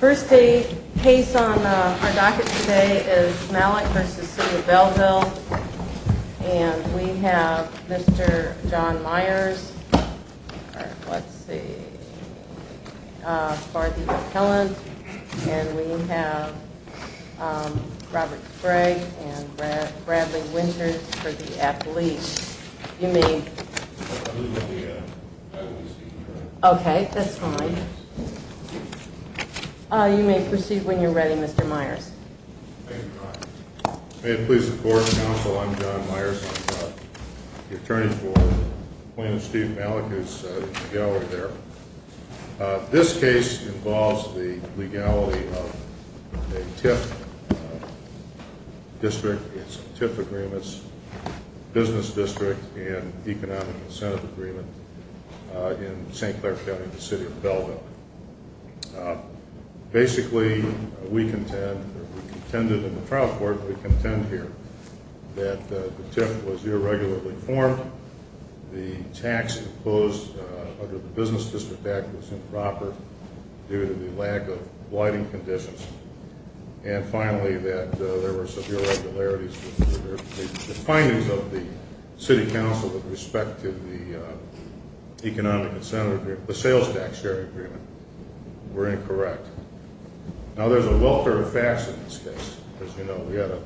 First case on our docket today is Malec v. City of Belleville And we have Mr. John Myers for the appellant And we have Robert Sprague and Bradley Winters for the appellate You may proceed when you're ready Mr. Myers May it please the court and counsel, I'm John Myers, I'm the attorney for Appellant Steve Malec who's in the gallery there This case involves the legality of a TIF district, it's a TIF agreement, business district and economic incentive agreement in St. Clair County, the city of Belleville Basically we contend, we contended in the trial court, we contend here that the TIF was irregularly formed, the tax imposed under the business district act was improper due to the lack of lighting conditions And finally that there were some irregularities with the findings of the city council with respect to the economic incentive agreement, the sales tax agreement were incorrect Now there's a welfare of facts in this case, as you know we had a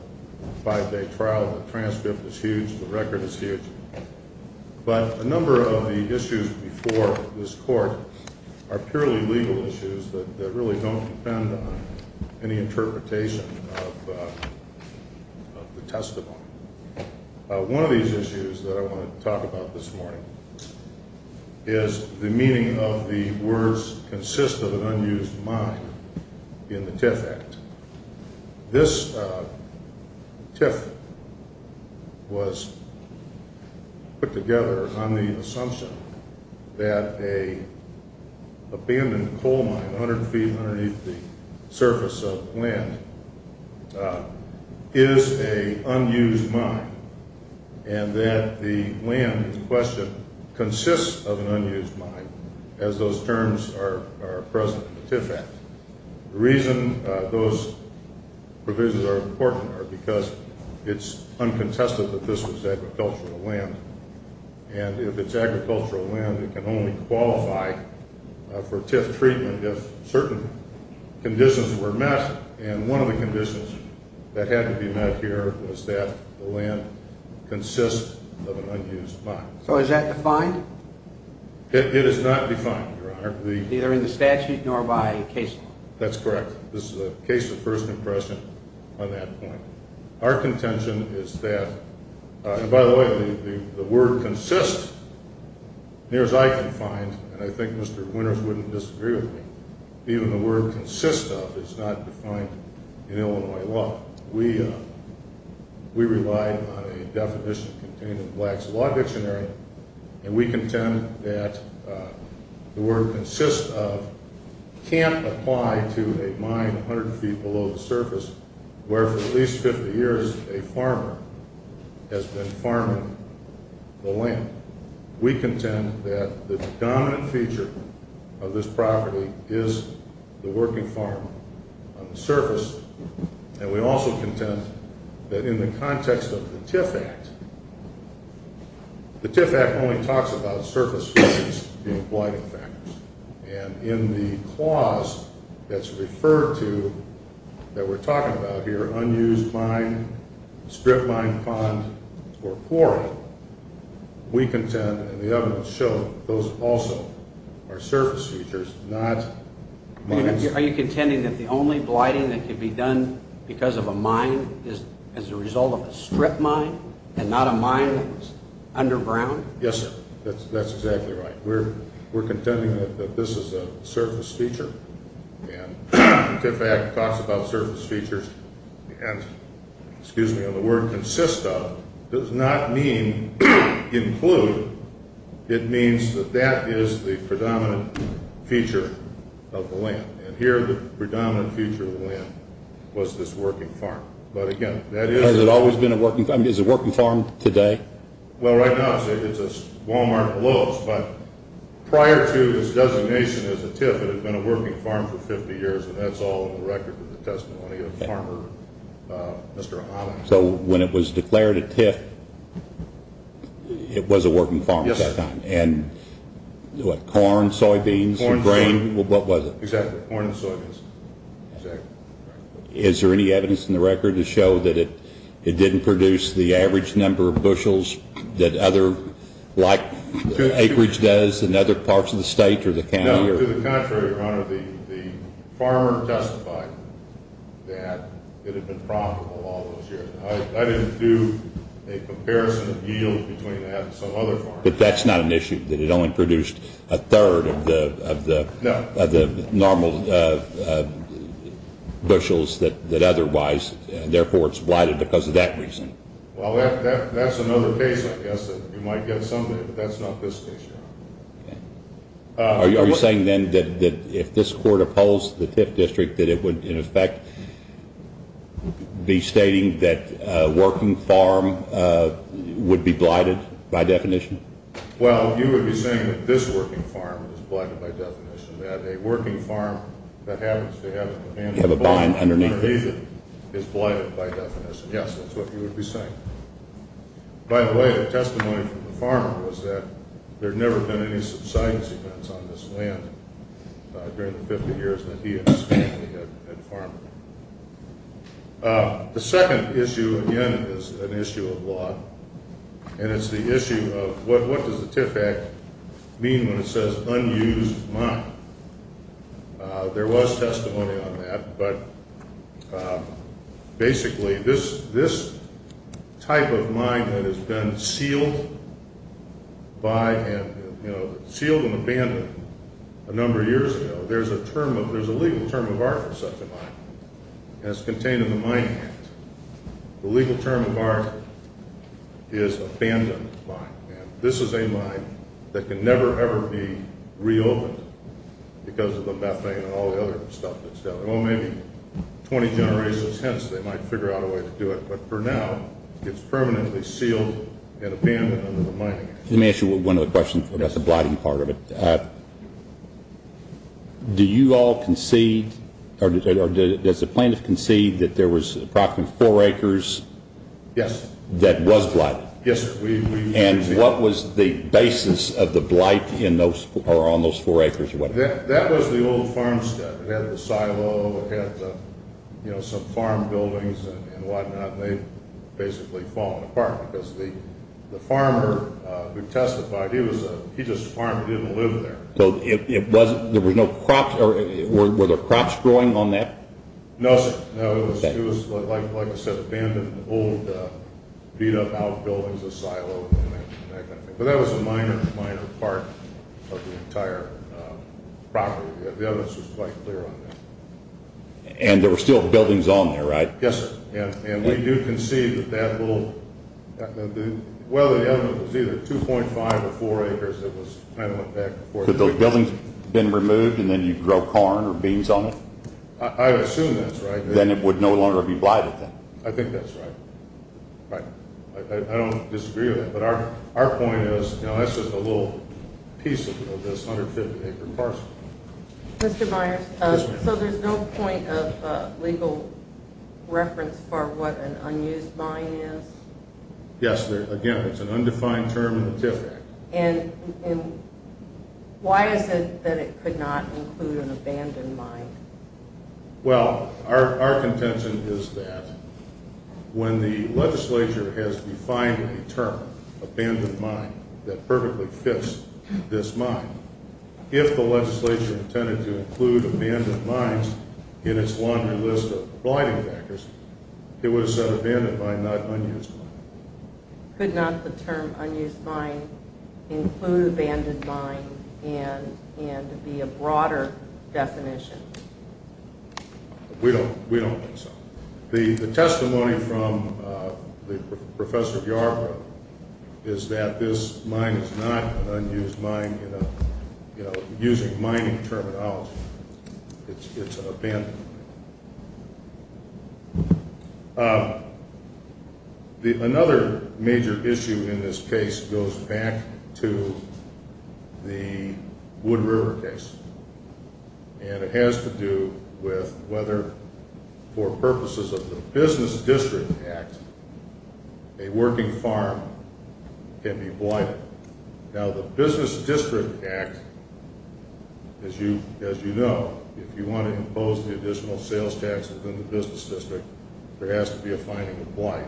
five day trial, the transcript is huge, the record is huge But a number of the issues before this court are purely legal issues that really don't depend on any interpretation of the testimony One of these issues that I want to talk about this morning is the meaning of the words consist of an unused mine in the TIF act This TIF was put together on the assumption that an abandoned coal mine 100 feet underneath the surface of land is an unused mine And that the land in question consists of an unused mine as those terms are present in the TIF act The reason those provisions are important are because it's uncontested that this was agricultural land And if it's agricultural land it can only qualify for TIF treatment if certain conditions were met And one of the conditions that had to be met here was that the land consists of an unused mine So is that defined? It is not defined, your honor Neither in the statute nor by case law That's correct, this is a case of first impression on that point Our contention is that, and by the way the word consist, near as I can find, and I think Mr. Winters wouldn't disagree with me Even the word consist of is not defined in Illinois law We relied on a definition contained in Black's Law Dictionary And we contend that the word consist of can't apply to a mine 100 feet below the surface Where for at least 50 years a farmer has been farming the land We contend that the dominant feature of this property is the working farm on the surface And we also contend that in the context of the TIF Act, the TIF Act only talks about surface features being blighting factors And in the clause that's referred to that we're talking about here, unused mine, strip mine, pond, or quarry We contend, and the evidence shows, those also are surface features, not mines Are you contending that the only blighting that can be done because of a mine is as a result of a strip mine and not a mine that's underground? Yes sir, that's exactly right We're contending that this is a surface feature And the TIF Act talks about surface features Excuse me, and the word consist of does not mean include It means that that is the predominant feature of the land And here the predominant feature of the land was this working farm But again, that is Has it always been a working farm? Is it a working farm today? Well right now it's a Walmart and Lowe's But prior to this designation as a TIF it had been a working farm for 50 years And that's all in the record of the testimony of Mr. O'Connor So when it was declared a TIF it was a working farm at that time? Yes sir And corn, soybeans, grain, what was it? Exactly, corn and soybeans Is there any evidence in the record to show that it didn't produce the average number of bushels like acreage does in other parts of the state or the county? To the contrary your honor, the farmer testified that it had been profitable all those years I didn't do a comparison of yield between that and some other farmers But that's not an issue, that it only produced a third of the normal bushels that otherwise And therefore it's blighted because of that reason Well that's another case I guess that you might get some of it, but that's not this case your honor Are you saying then that if this court opposed the TIF district that it would in effect be stating that a working farm would be blighted by definition? Well you would be saying that this working farm is blighted by definition That a working farm that happens to have a combine underneath it is blighted by definition Yes, that's what you would be saying By the way the testimony from the farmer was that there had never been any subsidence events on this land during the 50 years that he and his family had farmed The second issue again is an issue of law And it's the issue of what does the TIF Act mean when it says unused mine? There was testimony on that, but basically this type of mine that has been sealed and abandoned a number of years ago There's a legal term of art for such a mine, and it's contained in the Mine Act The legal term of art is abandoned mine This is a mine that can never ever be reopened because of the methane and all the other stuff that's down there Well maybe 20 generations hence they might figure out a way to do it, but for now it's permanently sealed and abandoned under the Mining Act Let me ask you one other question, that's the blighting part of it Do you all concede, or does the plaintiff concede that there was approximately 4 acres that was blighted? Yes sir And what was the basis of the blight on those 4 acres? That was the old farmstead, it had the silo, it had some farm buildings and what not And they had basically fallen apart because the farmer who testified, he just farmed and didn't live there Were there crops growing on that? No sir, it was like I said, abandoned, old beat up outbuildings, a silo But that was a minor, minor part of the entire property, the evidence was quite clear on that And there were still buildings on there right? Yes sir, and we do concede that that little, well the evidence was either 2.5 or 4 acres that went back and forth Had those buildings been removed and then you'd grow corn or beans on it? I assume that's right Then it would no longer be blighted then? I think that's right, I don't disagree with that, but our point is that's just a little piece of this 150 acre parcel Mr. Myers, so there's no point of legal reference for what an unused mine is? Yes, again it's an undefined term in the TIF Act And why is it that it could not include an abandoned mine? Well, our contention is that when the legislature has defined a term, abandoned mine, that perfectly fits this mine If the legislature intended to include abandoned mines in its laundry list of blighting factors, it would have said abandoned mine, not unused mine Could not the term unused mine include abandoned mine and be a broader definition? We don't think so The testimony from the professor of yard work is that this mine is not an unused mine, using mining terminology It's an abandoned mine Another major issue in this case goes back to the Wood River case And it has to do with whether, for purposes of the Business District Act, a working farm can be blighted Now the Business District Act, as you know, if you want to impose the additional sales tax within the business district, there has to be a finding of blight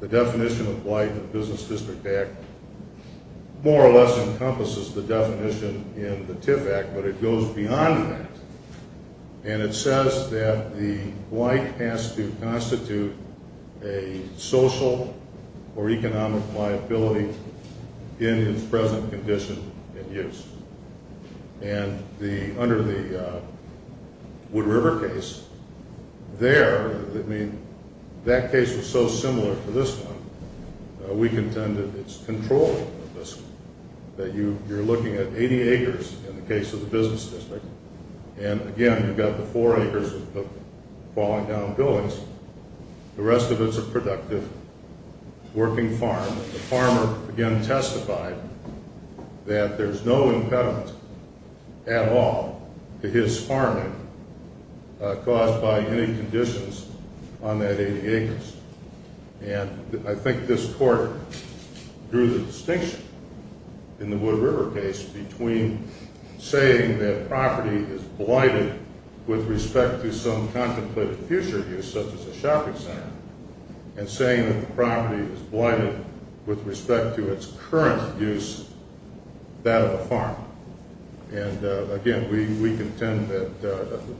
The definition of blight in the Business District Act more or less encompasses the definition in the TIF Act, but it goes beyond that And it says that the blight has to constitute a social or economic liability in its present condition and use And under the Wood River case, there, I mean, that case was so similar to this one, we contend that it's controlled That you're looking at 80 acres in the case of the business district, and again, you've got the 4 acres of falling down buildings The rest of it's a productive working farm The farmer, again, testified that there's no impediment at all to his farming caused by any conditions on that 80 acres And I think this court drew the distinction in the Wood River case between saying that property is blighted with respect to some contemplated future use Such as a shopping center, and saying that the property is blighted with respect to its current use, that of a farm And again, we contend that,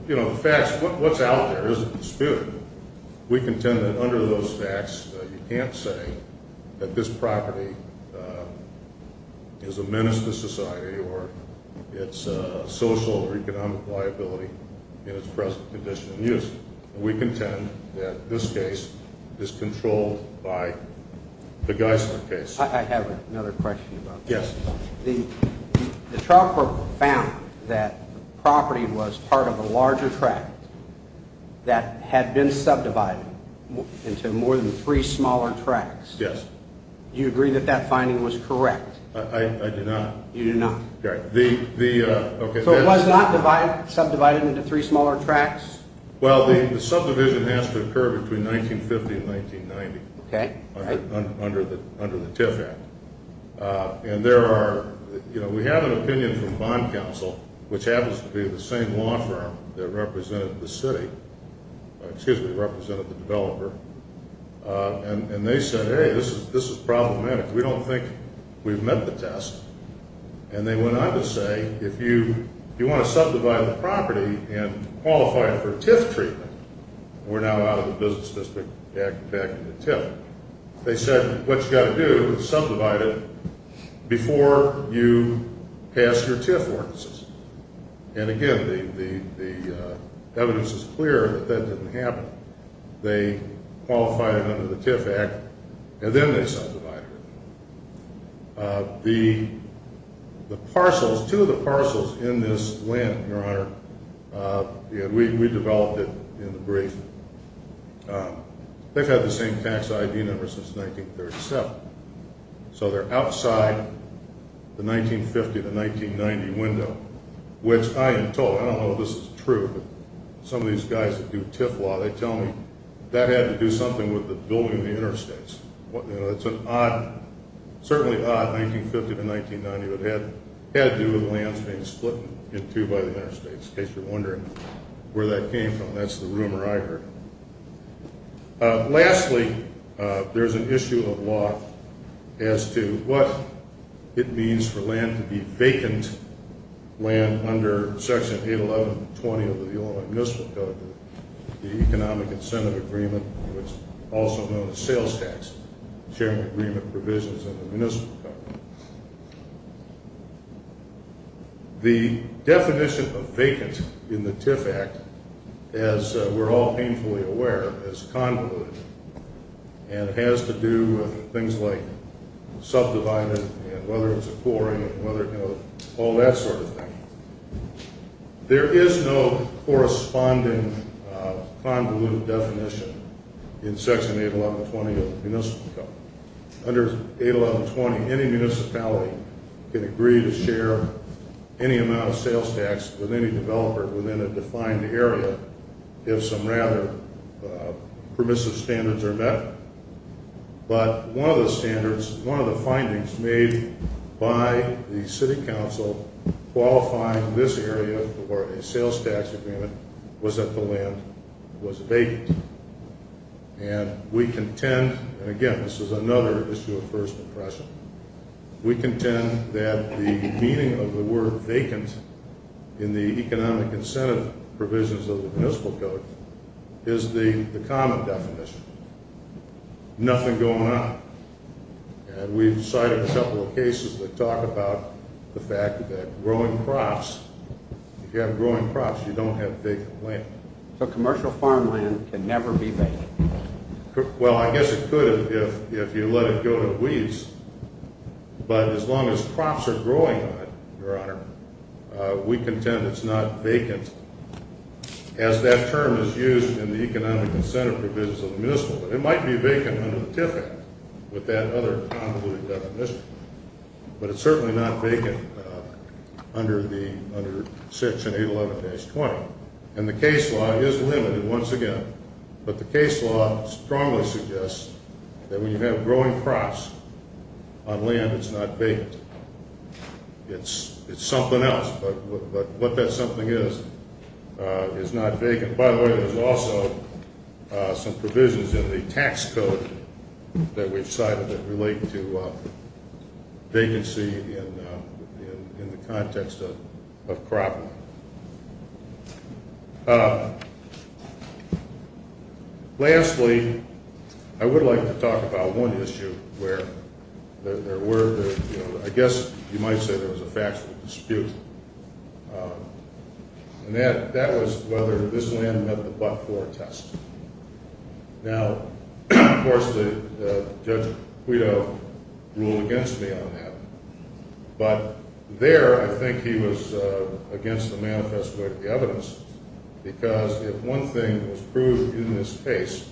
you know, the facts, what's out there isn't disputed We contend that under those facts, you can't say that this property is a menace to society or its social or economic liability in its present condition and use We contend that this case is controlled by the Geisler case I have another question about this The trial court found that the property was part of a larger tract that had been subdivided into more than 3 smaller tracts Yes Do you agree that that finding was correct? I do not You do not So it was not subdivided into 3 smaller tracts? Well, the subdivision has to occur between 1950 and 1990 Okay Under the TIF Act And there are, you know, we have an opinion from Bond Council, which happens to be the same law firm that represented the city Excuse me, represented the developer And they said, hey, this is problematic We don't think we've met the test And they went on to say, if you want to subdivide the property and qualify it for TIF treatment We're now out of the Business District Act and back into TIF They said, what you've got to do is subdivide it before you pass your TIF ordinances And again, the evidence is clear that that didn't happen They qualified it under the TIF Act and then they subdivided it The parcels, 2 of the parcels in this land, Your Honor We developed it in the brief They've had the same tax ID number since 1937 So they're outside the 1950 to 1990 window Which I am told, I don't know if this is true Some of these guys that do TIF law, they tell me that had to do something with the building of the interstates It's an odd, certainly odd, 1950 to 1990 It had to do with lands being split in two by the interstates In case you're wondering where that came from, that's the rumor I heard Lastly, there's an issue of law as to what it means for land to be vacant Land under Section 811.20 of the Illinois Municipal Code The Economic Incentive Agreement, which is also known as sales tax Sharing agreement provisions in the Municipal Code The definition of vacant in the TIF Act, as we're all painfully aware, is convoluted And it has to do with things like subdividing and whether it's a quarry and all that sort of thing There is no corresponding convoluted definition in Section 811.20 of the Municipal Code Under 811.20, any municipality can agree to share any amount of sales tax with any developer within a defined area If some rather permissive standards are met But one of the standards, one of the findings made by the City Council qualifying this area for a sales tax agreement Was that the land was vacant And we contend, and again this is another issue of first impression We contend that the meaning of the word vacant in the economic incentive provisions of the Municipal Code Is the common definition Nothing going on And we've cited a couple of cases that talk about the fact that growing crops If you have growing crops, you don't have vacant land So commercial farmland can never be vacant? Well, I guess it could if you let it go to weeds But as long as crops are growing on it, Your Honor We contend it's not vacant As that term is used in the economic incentive provisions of the Municipal Code It might be vacant under the TIF Act with that other convoluted definition But it's certainly not vacant under Section 811.20 And the case law is limited once again But the case law strongly suggests that when you have growing crops on land, it's not vacant It's something else, but what that something is, is not vacant By the way, there's also some provisions in the tax code That we've cited that relate to vacancy in the context of crop land Lastly, I would like to talk about one issue I guess you might say there was a factual dispute And that was whether this land met the But-For test Now, of course, Judge Guido ruled against me on that But there, I think he was against the manifesto of the evidence Because if one thing was proved in this case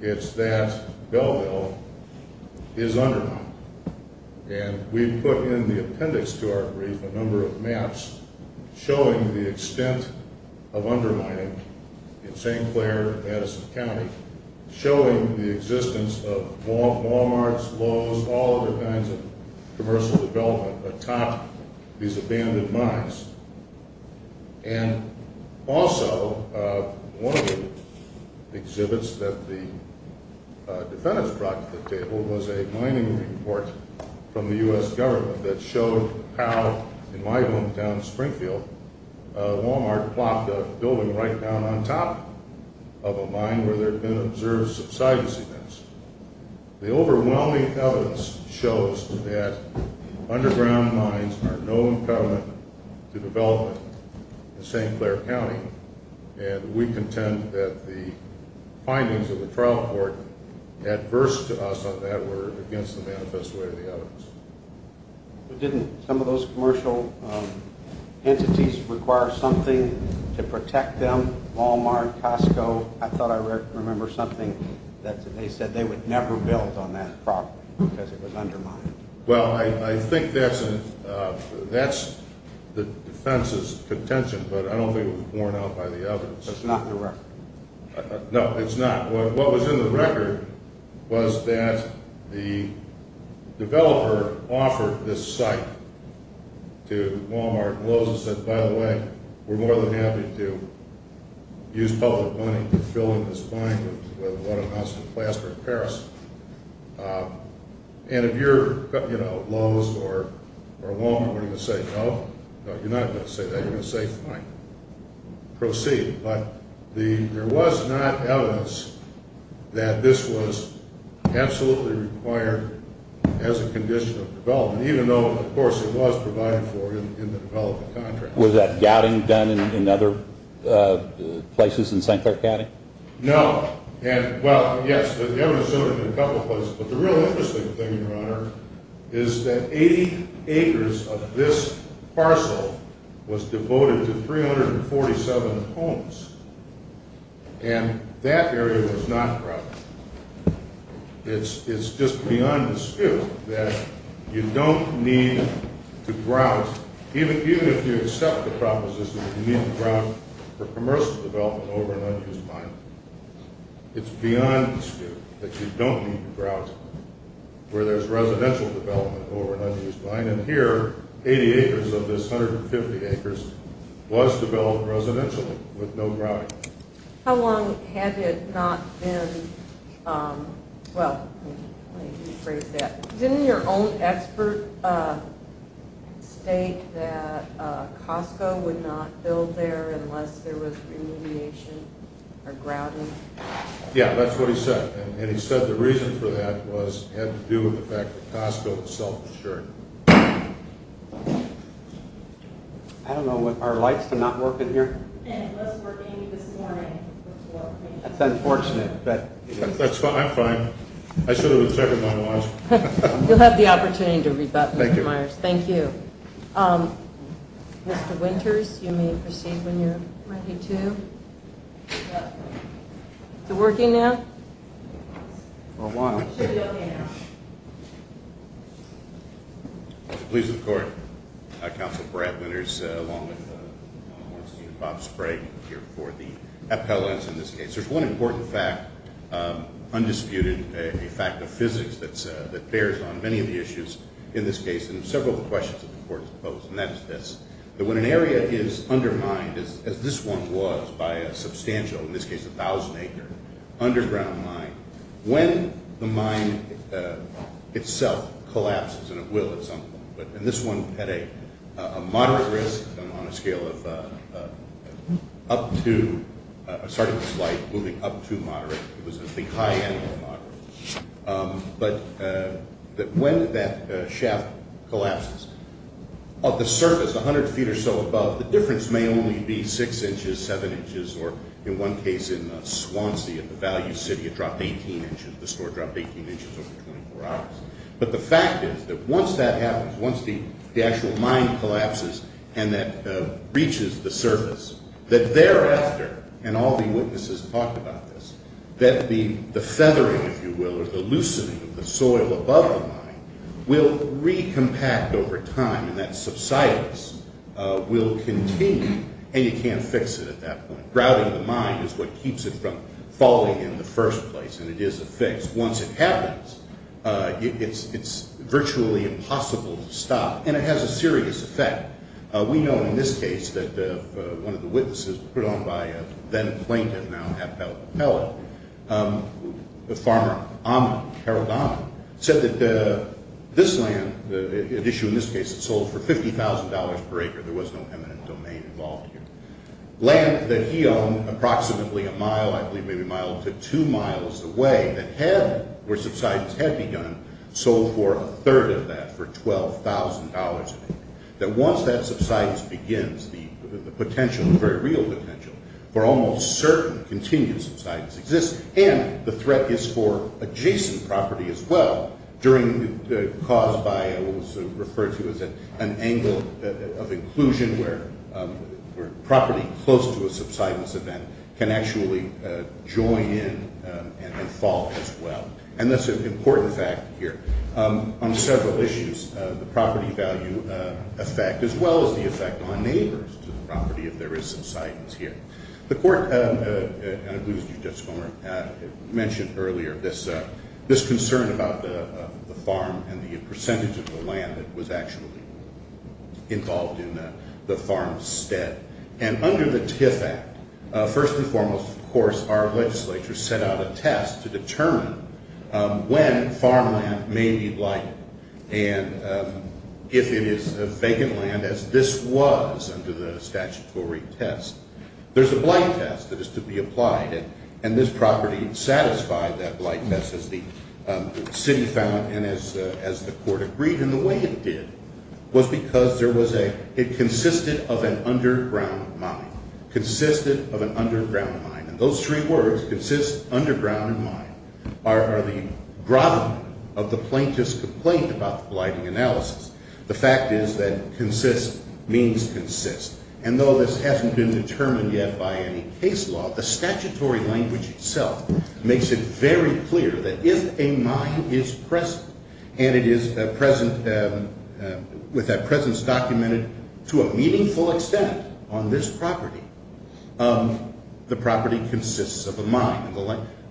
It's that Belleville is undermined And we put in the appendix to our brief a number of maps Showing the extent of undermining in St. Clair, Madison County Showing the existence of Walmarts, Lowe's, all other kinds of commercial development Atop these abandoned mines And also, one of the exhibits that the defendants brought to the table Was a mining report from the U.S. government That showed how, in my hometown, Springfield A Walmart plopped a building right down on top of a mine Where there had been observed subsidence events The overwhelming evidence shows that underground mines Are no impediment to development in St. Clair County And we contend that the findings of the trial court Adverse to us on that were against the manifesto of the evidence But didn't some of those commercial entities require something to protect them? Walmart, Costco, I thought I remember something That they said they would never build on that property Because it was undermined Well, I think that's the defense's contention But I don't think it was borne out by the evidence That's not the record No, it's not What was in the record was that the developer offered this site to Walmart And Lowe's said, by the way, we're more than happy to use public money To fill in this mine with what amounts to plaster of Paris And if you're Lowe's or Walmart were going to say no You're not going to say that, you're going to say fine, proceed But there was not evidence that this was absolutely required As a condition of development Even though, of course, it was provided for in the development contract Was that gouting done in other places in St. Clair County? No, well, yes, the evidence showed it in a couple places But the real interesting thing, your honor Is that 80 acres of this parcel was devoted to 347 homes And that area was not grouted It's just beyond dispute that you don't need to grout Even if you accept the proposition that you need to grout For commercial development over an unused mine It's beyond dispute that you don't need to grout Where there's residential development over an unused mine And here, 80 acres of this 150 acres was developed residentially With no grouting How long had it not been, well, let me rephrase that Didn't your own expert state that Costco would not build there Unless there was remediation or grouting? Yeah, that's what he said And he said the reason for that was Had to do with the fact that Costco was self-insured I don't know, are lights not working here? It was working this morning That's unfortunate That's fine, I'm fine I should have checked my watch You'll have the opportunity to read that, Mr. Myers Thank you Mr. Winters, you may proceed when you're ready to Is it working now? For a while Pleased to report, Councilman Brad Winters Along with Councilman Warrenstein and Bob Sprague Here for the appellants in this case There's one important fact, undisputed A fact of physics that bears on many of the issues in this case And several questions of importance pose And that's this That when an area is undermined As this one was by a substantial, in this case a thousand acre Underground mine When the mine itself collapses And it will at some point And this one had a moderate risk On a scale of up to Starting with light, moving up to moderate It was a high end of moderate But when that shaft collapses Of the surface, a hundred feet or so above The difference may only be six inches, seven inches Or in one case in Swansea, the value city It dropped 18 inches, the store dropped 18 inches over 24 hours But the fact is that once that happens Once the actual mine collapses And that reaches the surface That thereafter, and all the witnesses talked about this That the feathering, if you will Or the loosening of the soil above the mine Will recompact over time And that subsidence will continue And you can't fix it at that point Grouting the mine is what keeps it from falling in the first place And it is a fix Once it happens, it's virtually impossible to stop And it has a serious effect We know in this case that one of the witnesses This was put on by a then plaintiff, now appellate The farmer, Carol Donnell Said that this land, an issue in this case Sold for $50,000 per acre There was no eminent domain involved here Land that he owned approximately a mile I believe maybe a mile to two miles away Where subsidence had begun Sold for a third of that for $12,000 That once that subsidence begins The potential, the very real potential For almost certain continued subsidence exists And the threat is for adjacent property as well Caused by what was referred to as an angle of inclusion Where property close to a subsidence event Can actually join in and then fall as well And that's an important fact here On several issues The property value effect As well as the effect on neighbors to the property If there is subsidence here The court, and I believe it was you, Judge Comer Mentioned earlier this concern about the farm And the percentage of the land that was actually Involved in the farm's stead And under the TIF Act First and foremost, of course, our legislature Set out a test to determine When farmland may be lightened And if it is vacant land As this was under the statutory test There's a blight test that is to be applied And this property satisfied that blight test As the city found and as the court agreed And the way it did Was because it consisted of an underground mine And those three words, consist, underground, and mine Are the grovel of the plaintiff's complaint About the blighting analysis The fact is that consist means consist And though this hasn't been determined yet by any case law The statutory language itself Makes it very clear that if a mine is present And it is present With that presence documented To a meaningful extent on this property The property consists of a mine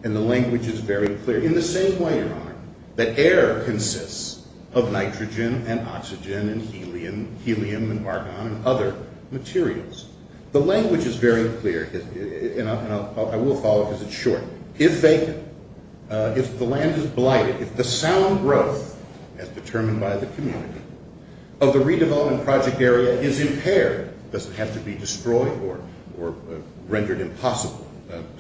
And the language is very clear In the same way, your honor, that air consists Of nitrogen and oxygen and helium And argon and other materials The language is very clear And I will follow because it's short If the land is blighted, if the sound growth As determined by the community Of the redevelopment project area is impaired It doesn't have to be destroyed Or rendered impossible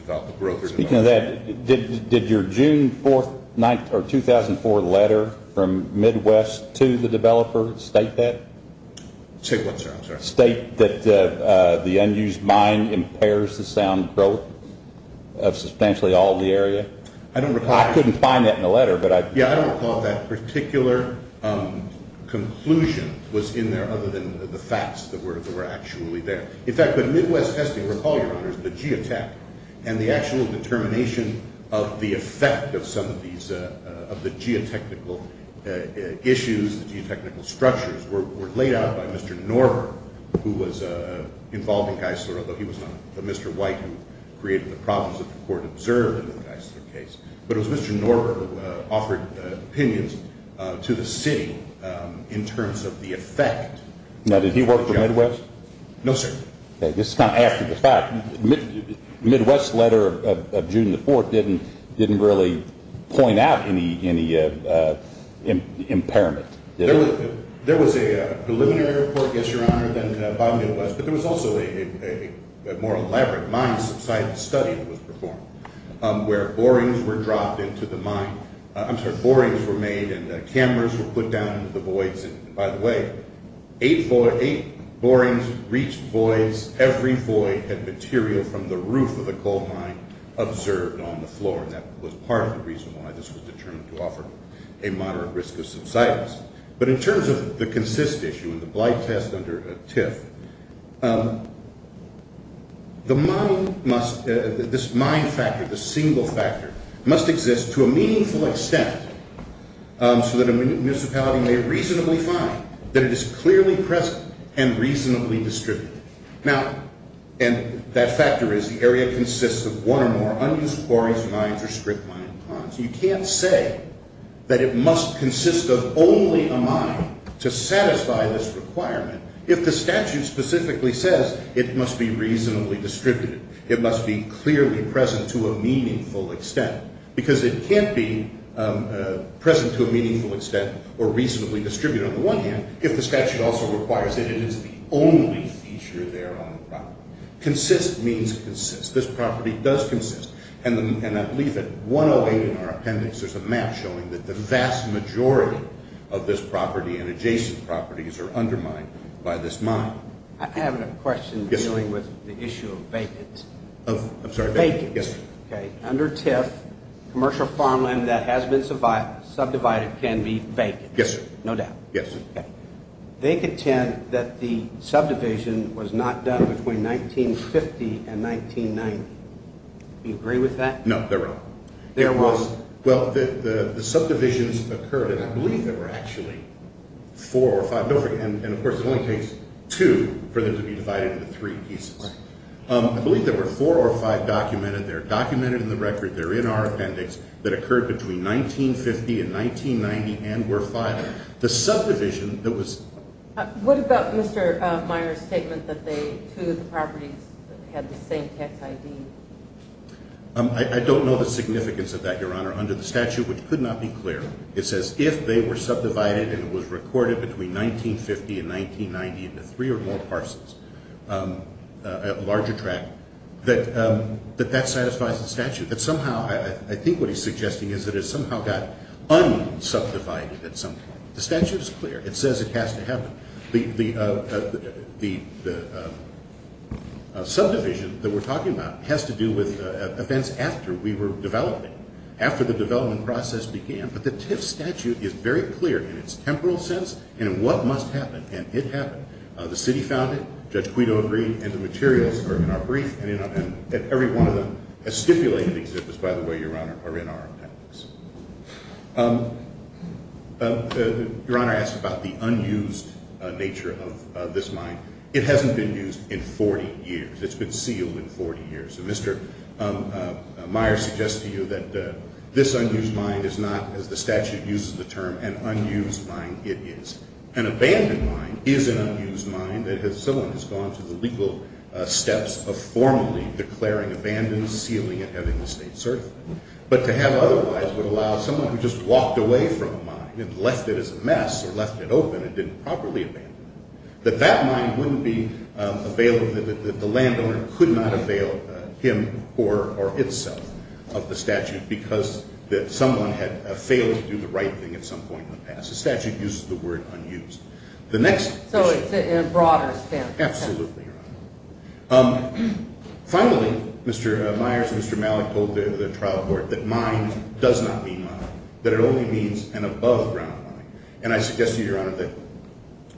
Did your June 4, 2004 letter From Midwest to the developer State that? State that the unused mine impairs The sound growth of substantially all the area? I couldn't find that in the letter Yeah, I don't recall that particular conclusion Was in there other than the facts that were actually there In fact, the Midwest testing, recall your honors The geotech and the actual determination Of the effect of some of these Of the geotechnical issues, the geotechnical structures Were laid out by Mr. Norber Who was involved in Geisler Although he was not the Mr. White who created the problems That the court observed in the Geisler case But it was Mr. Norber who offered opinions To the city in terms of the effect Now, did he work for Midwest? No, sir This is kind of after the fact The Midwest letter of June 4 didn't really point out Any impairment There was a preliminary report, yes your honor But there was also a more elaborate Mine subsidence study that was performed Where borings were dropped into the mine I'm sorry, borings were made and cameras were put down Into the voids, and by the way Eight borings reached voids Every void had material from the roof of the coal mine Observed on the floor, and that was part of the reason Why this was determined to offer a moderate risk of subsidence But in terms of the consist issue The blight test under TIF The mine must This mine factor, this single factor Must exist to a meaningful extent So that a municipality may reasonably find That it is clearly present and reasonably distributed Now, and that factor is The area consists of one or more unused borings, mines or strip mines You can't say that it must consist of Only a mine to satisfy this requirement If the statute specifically says It must be reasonably distributed It must be clearly present to a meaningful extent Because it can't be present to a meaningful extent Or reasonably distributed on the one hand If the statute also requires it and it's the only feature there Consist means consist This property does consist And I believe that 108 in our appendix There's a map showing that the vast majority Of this property and adjacent properties are undermined by this mine I have a question dealing with the issue of Vacants Under TIF, commercial farmland that has been Subdivided can be vacant No doubt They contend that the subdivision was not done between 1950 and 1990 Do you agree with that? No, they're wrong Well, the subdivisions occurred And I believe there were actually 4 or 5 And of course it only takes 2 for them to be divided into 3 pieces I believe there were 4 or 5 documented They're documented in the record, they're in our appendix That occurred between 1950 and 1990 and were filed The subdivision that was What about Mr. Meyer's statement that Two of the properties had the same tax ID I don't know the significance of that Your Honor, under the statute, which could not be clear It says if they were subdivided and it was recorded between 1950 and 1990 into 3 or more parcels A larger tract That that satisfies the statute I think what he's suggesting is that it somehow got unsubdivided The statute is clear, it says it has to happen The subdivision that we're talking about Has to do with events after we were developing After the development process began But the TIF statute is very clear in its temporal sense And in what must happen, and it happened The city found it, Judge Quito agreed And the materials are in our brief And every one of them, a stipulated exhibit By the way, Your Honor, are in our appendix Your Honor asked about the unused Nature of this mine It hasn't been used in 40 years It's been sealed in 40 years Mr. Meyer suggests to you that this unused mine Is not, as the statute uses the term, an unused mine It is. An abandoned mine is an unused mine Someone has gone through the legal steps Of formally declaring abandon, sealing it And having the state certify it But to have otherwise would allow someone who just walked away from the mine And left it as a mess, or left it open and didn't properly abandon it That that mine wouldn't be available That the landowner could not avail him or itself Of the statute Because someone had failed to do the right thing at some point in the past The statute uses the word unused So it's in a broader sense Absolutely, Your Honor Finally, Mr. Myers and Mr. Malik told the trial court That mine does not mean mine That it only means an above ground mine And I suggest to you,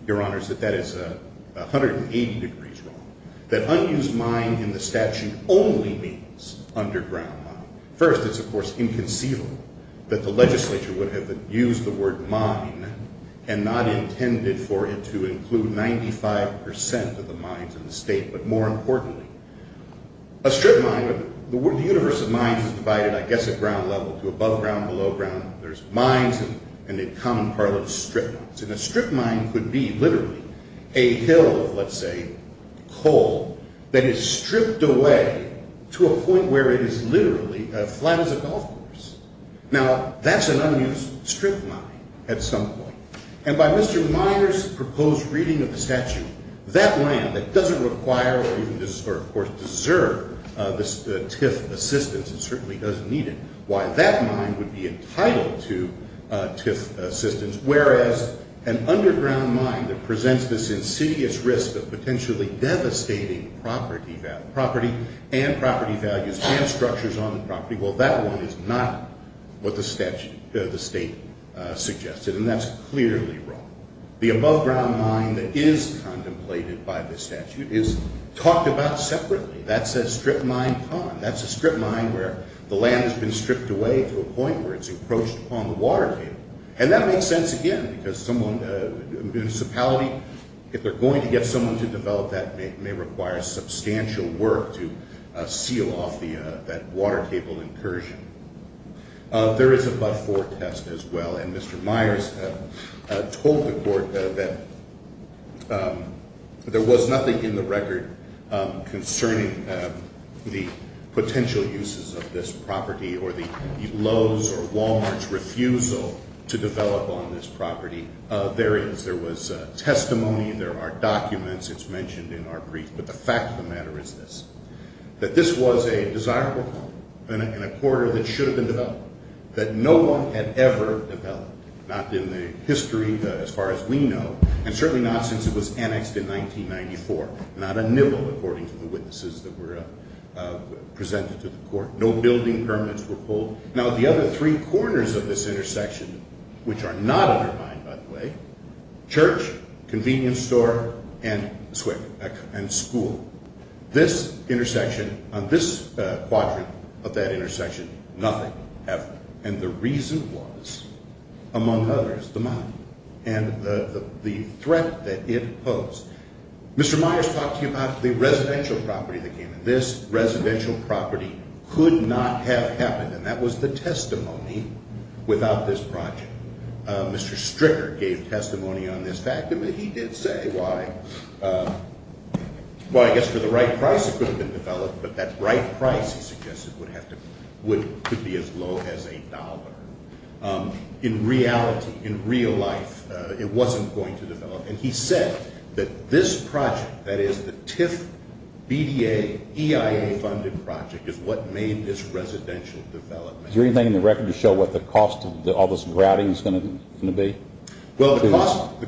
Your Honor, that that is 180 degrees wrong That unused mine in the statute Only means underground mine First, it's of course inconceivable that the legislature Would have used the word mine And not intended for it to include 95% of the mines in the state But more importantly A strip mine, the universe of mines is divided I guess at ground level to above ground, below ground There's mines and a common part of strips And a strip mine could be literally A hill of, let's say, coal That is stripped away to a point where it is literally Flat as a golf course Now, that's an unused strip mine at some point And by Mr. Myers' proposed reading of the statute That land that doesn't require Or of course deserve the TIF assistance It certainly doesn't need it Why that mine would be entitled to TIF assistance Whereas an underground mine that presents this insidious risk Of potentially devastating property And property values and structures on the property Well, that one is not what the state suggested And that's clearly wrong The above ground mine that is contemplated by the statute Is talked about separately That's a strip mine pond That's a strip mine where the land has been stripped away To a point where it's encroached upon the water table And that makes sense again Because a municipality If they're going to get someone to develop that May require substantial work To seal off that water table incursion There is a but-for test as well And Mr. Myers told the court That there was nothing in the record Concerning the potential uses of this property Or the Lowe's or Walmart's refusal To develop on this property There was testimony, there are documents It's mentioned in our brief But the fact of the matter is this That this was a desirable pond And a corridor that should have been developed That no one had ever developed Not in the history as far as we know And certainly not since it was annexed in 1994 Not a nibble according to the witnesses That were presented to the court No building permanents were pulled Now the other three corners of this intersection Which are not undermined by the way Church, convenience store, and school This intersection, on this quadrant Of that intersection, nothing ever And the reason was, among others And the threat that it posed Mr. Myers talked to you about the residential property This residential property could not have happened And that was the testimony without this project Mr. Stricker gave testimony on this fact And he did say why Well I guess for the right price it could have been developed But that right price he suggested Would be as low as a dollar In reality, in real life, it wasn't going to develop And he said that this project That is the TIF, BDA, EIA funded project Is what made this residential development Is there anything in the record to show what the cost Of all this grouting is going to be? Well the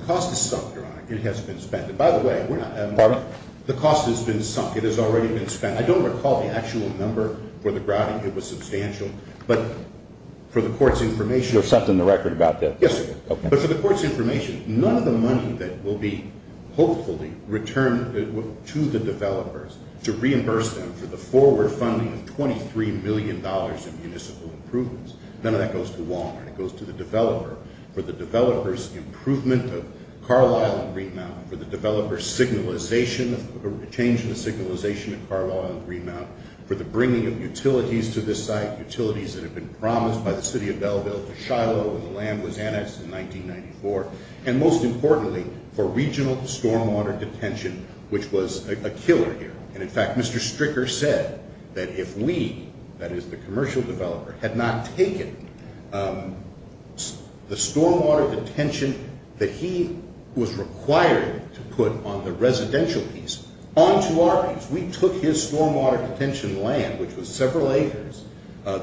cost is sunk, it has been spent By the way, the cost has been sunk, it has already been spent I don't recall the actual number for the grouting But for the court's information None of the money that will be Hopefully returned to the developers To reimburse them for the forward funding Of $23 million in municipal improvements None of that goes to Wal-Mart, it goes to the developer For the developer's improvement of Carlisle and Greenmount Of Carlisle and Greenmount For the bringing of utilities to this site Utilities that have been promised by the City of Belleville To Shiloh when the land was annexed in 1994 And most importantly, for regional stormwater detention Which was a killer here And in fact, Mr. Stricker said That if we, that is the commercial developer Had not taken the stormwater detention That he was required to put on the residential piece Onto our piece, we took his stormwater detention land Which was several acres,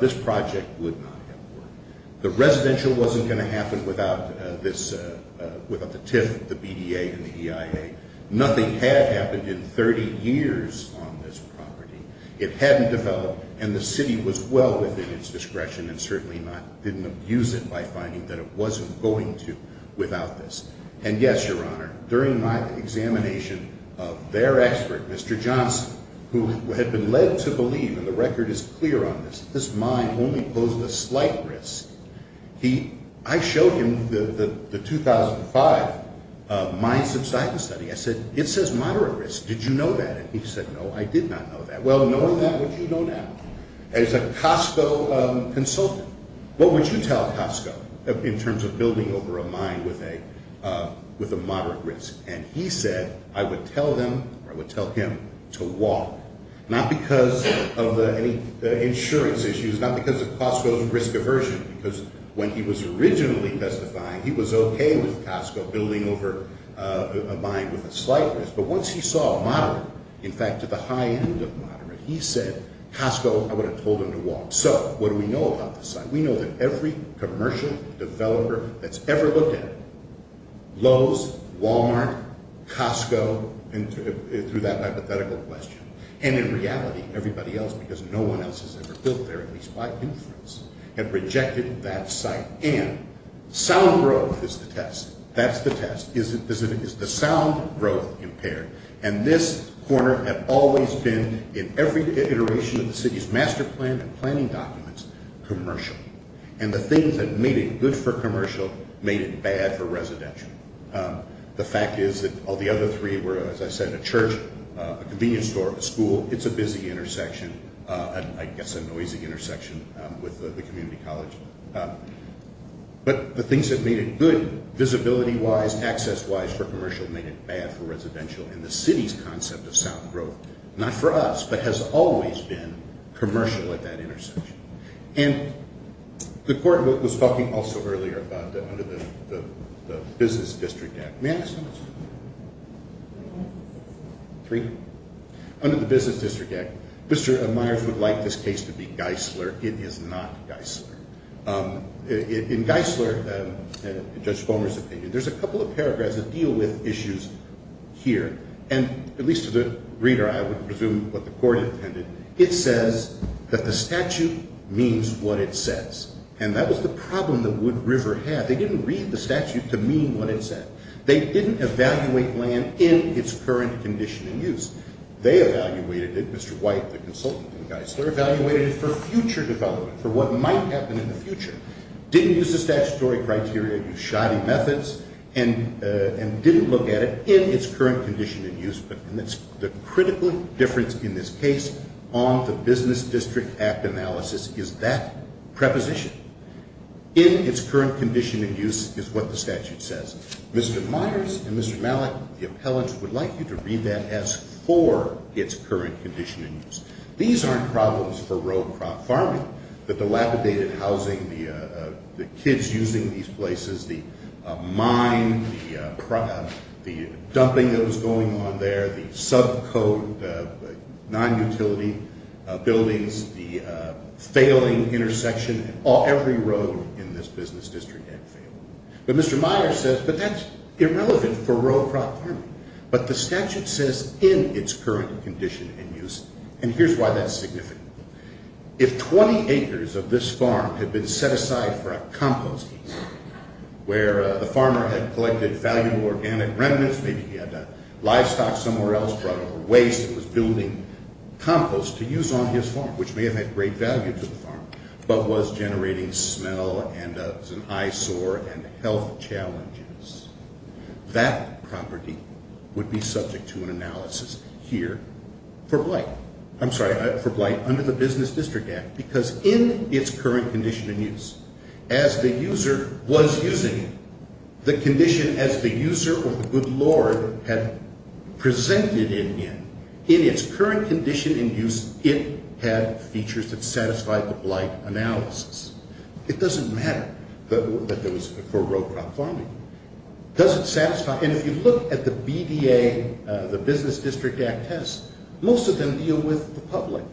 this project would not have worked The residential wasn't going to happen Without the TIF, the BDA and the EIA Nothing had happened in 30 years On this property It hadn't developed and the city was well within its discretion And certainly didn't abuse it by finding That it wasn't going to without this And yes, your honor, during my examination Of their expert, Mr. Johnson Who had been led to believe, and the record is clear on this That this mine only posed a slight risk I showed him the 2005 Mine subsidence study I said, it says moderate risk, did you know that? And he said, no, I did not know that Well, knowing that, what do you know now? As a Costco consultant, what would you tell Costco In terms of building over a mine with a moderate risk And he said, I would tell them Or I would tell him to walk Not because of any insurance issues Not because of Costco's risk aversion Because when he was originally testifying He was okay with Costco building over a mine with a slight risk But once he saw moderate, in fact to the high end of moderate He said, Costco, I would have told them to walk So, what do we know about this site? We know that every commercial developer that's ever looked at it Lowe's, Walmart, Costco Through that hypothetical question And in reality, everybody else, because no one else has ever built there At least by inference, had rejected that site And sound growth is the test That's the test, is the sound growth impaired And this corner had always been In every iteration of the city's master plan and planning documents Commercial And the things that made it good for commercial made it bad for residential The fact is that all the other three were, as I said A church, a convenience store, a school It's a busy intersection, I guess a noisy intersection With the community college But the things that made it good visibility wise Access wise for commercial made it bad for residential And the city's concept of sound growth, not for us But has always been commercial at that intersection And the court was talking also earlier Under the business district act May I ask you a question? Under the business district act Mr. Myers would like this case to be Geisler It is not Geisler In Geisler, Judge Fulmer's opinion There's a couple of paragraphs that deal with issues here And at least to the reader I would presume what the court intended It says that the statute means what it says And that was the problem that Wood River had They didn't read the statute to mean what it said They didn't evaluate land in its current condition and use They evaluated it, Mr. White, the consultant They evaluated it for future development For what might happen in the future Didn't use the statutory criteria, use shoddy methods And didn't look at it in its current condition and use And that's the critical difference in this case On the business district act analysis Is that preposition In its current condition and use is what the statute says Mr. Myers and Mr. Malik, the appellants Would like you to read that as for its current condition and use These aren't problems for row crop farming The dilapidated housing, the kids using these places The mine The dumping that was going on there The sub code, non-utility buildings The failing intersection Every road in this business district had failed But Mr. Myers says But that's irrelevant for row crop farming But the statute says in its current condition and use And here's why that's significant If 20 acres of this farm had been set aside for a composting Where the farmer had collected valuable organic remnants Maybe he had livestock somewhere else Brought over waste and was building compost To use on his farm, which may have had great value to the farm But was generating smell And was an eyesore and health challenges That property would be subject to an analysis Here for blight I'm sorry, for blight under the business district act Because in its current condition and use As the user was using it The condition as the user or the good lord Had presented it in In its current condition and use It had features that satisfied the blight analysis It doesn't matter For row crop farming And if you look at the BDA The business district act test Most of them deal with the public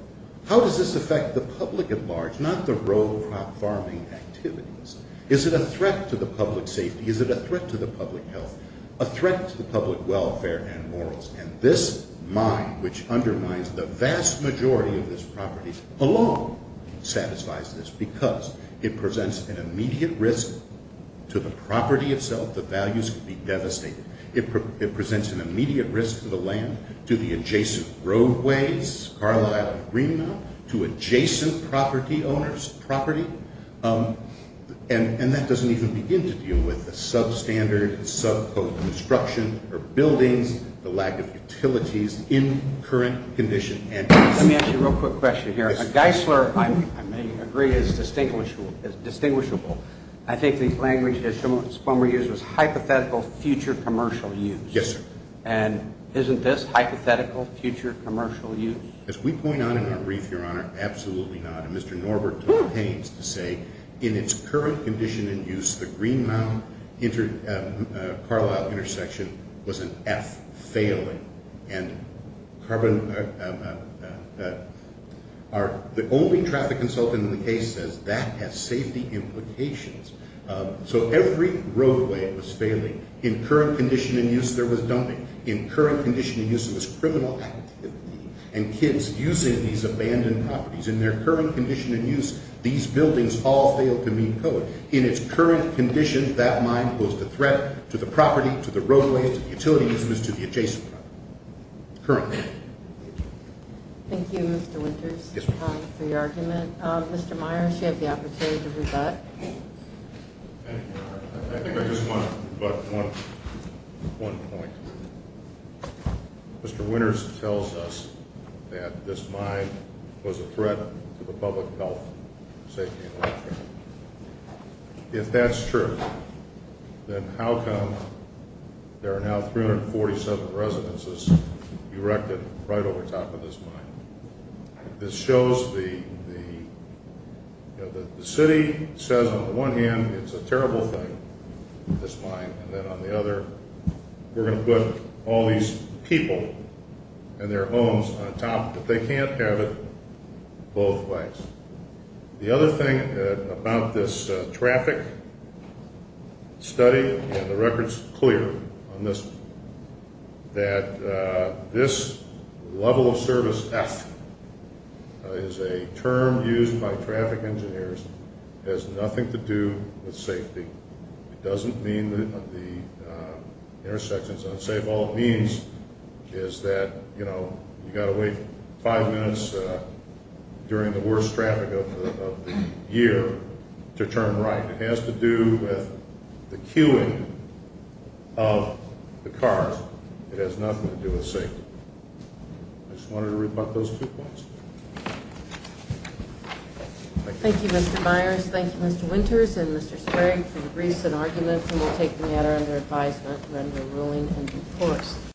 How does this affect the public at large Not the row crop farming activities Is it a threat to the public safety Is it a threat to the public health A threat to the public welfare and morals And this mine, which undermines the vast majority of this property Alone satisfies this Because it presents an immediate risk To the property itself, the values could be devastated It presents an immediate risk to the land To the adjacent roadways To adjacent property owners And that doesn't even begin to deal with The substandard subcode construction Or buildings, the lack of utilities In current condition and use Let me ask you a real quick question Geisler, I may agree, is distinguishable I think the language that Schumer used Was hypothetical future commercial use And isn't this hypothetical future commercial use As we point out in our brief, your honor, absolutely not And Mr. Norbert pains to say In its current condition and use The Greenmount-Carlisle intersection was an F, failing And carbon The only traffic consultant in the case Says that has safety implications So every roadway was failing In current condition and use there was dumping In current condition and use there was criminal activity And kids using these abandoned properties In their current condition and use, these buildings all failed to meet code In its current condition, that mine was the threat To the property, to the roadways, to the utilities To the adjacent property Thank you Mr. Winters for your argument Mr. Myers, you have the opportunity to rebut I think I just want to rebut One point Mr. Winters tells us that This mine was a threat to the public health Safety and welfare If that's true, then how come There are now 347 residences Erected right over top of this mine This shows the The city says on the one hand It's a terrible thing, this mine And on the other, we're going to put all these people And their homes on top But they can't have it both ways The other thing about this traffic Study And the record's clear on this That this level of service F Is a term used by traffic engineers It has nothing to do with safety It doesn't mean that the intersection's unsafe All it means is that You've got to wait five minutes During the worst traffic of the year To turn right It has to do with the queuing of the cars It has nothing to do with safety I just wanted to rebut those two points Thank you, Mr. Myers Thank you, Mr. Winters and Mr. Sprague For your briefs and arguments And we'll take the matter under advisement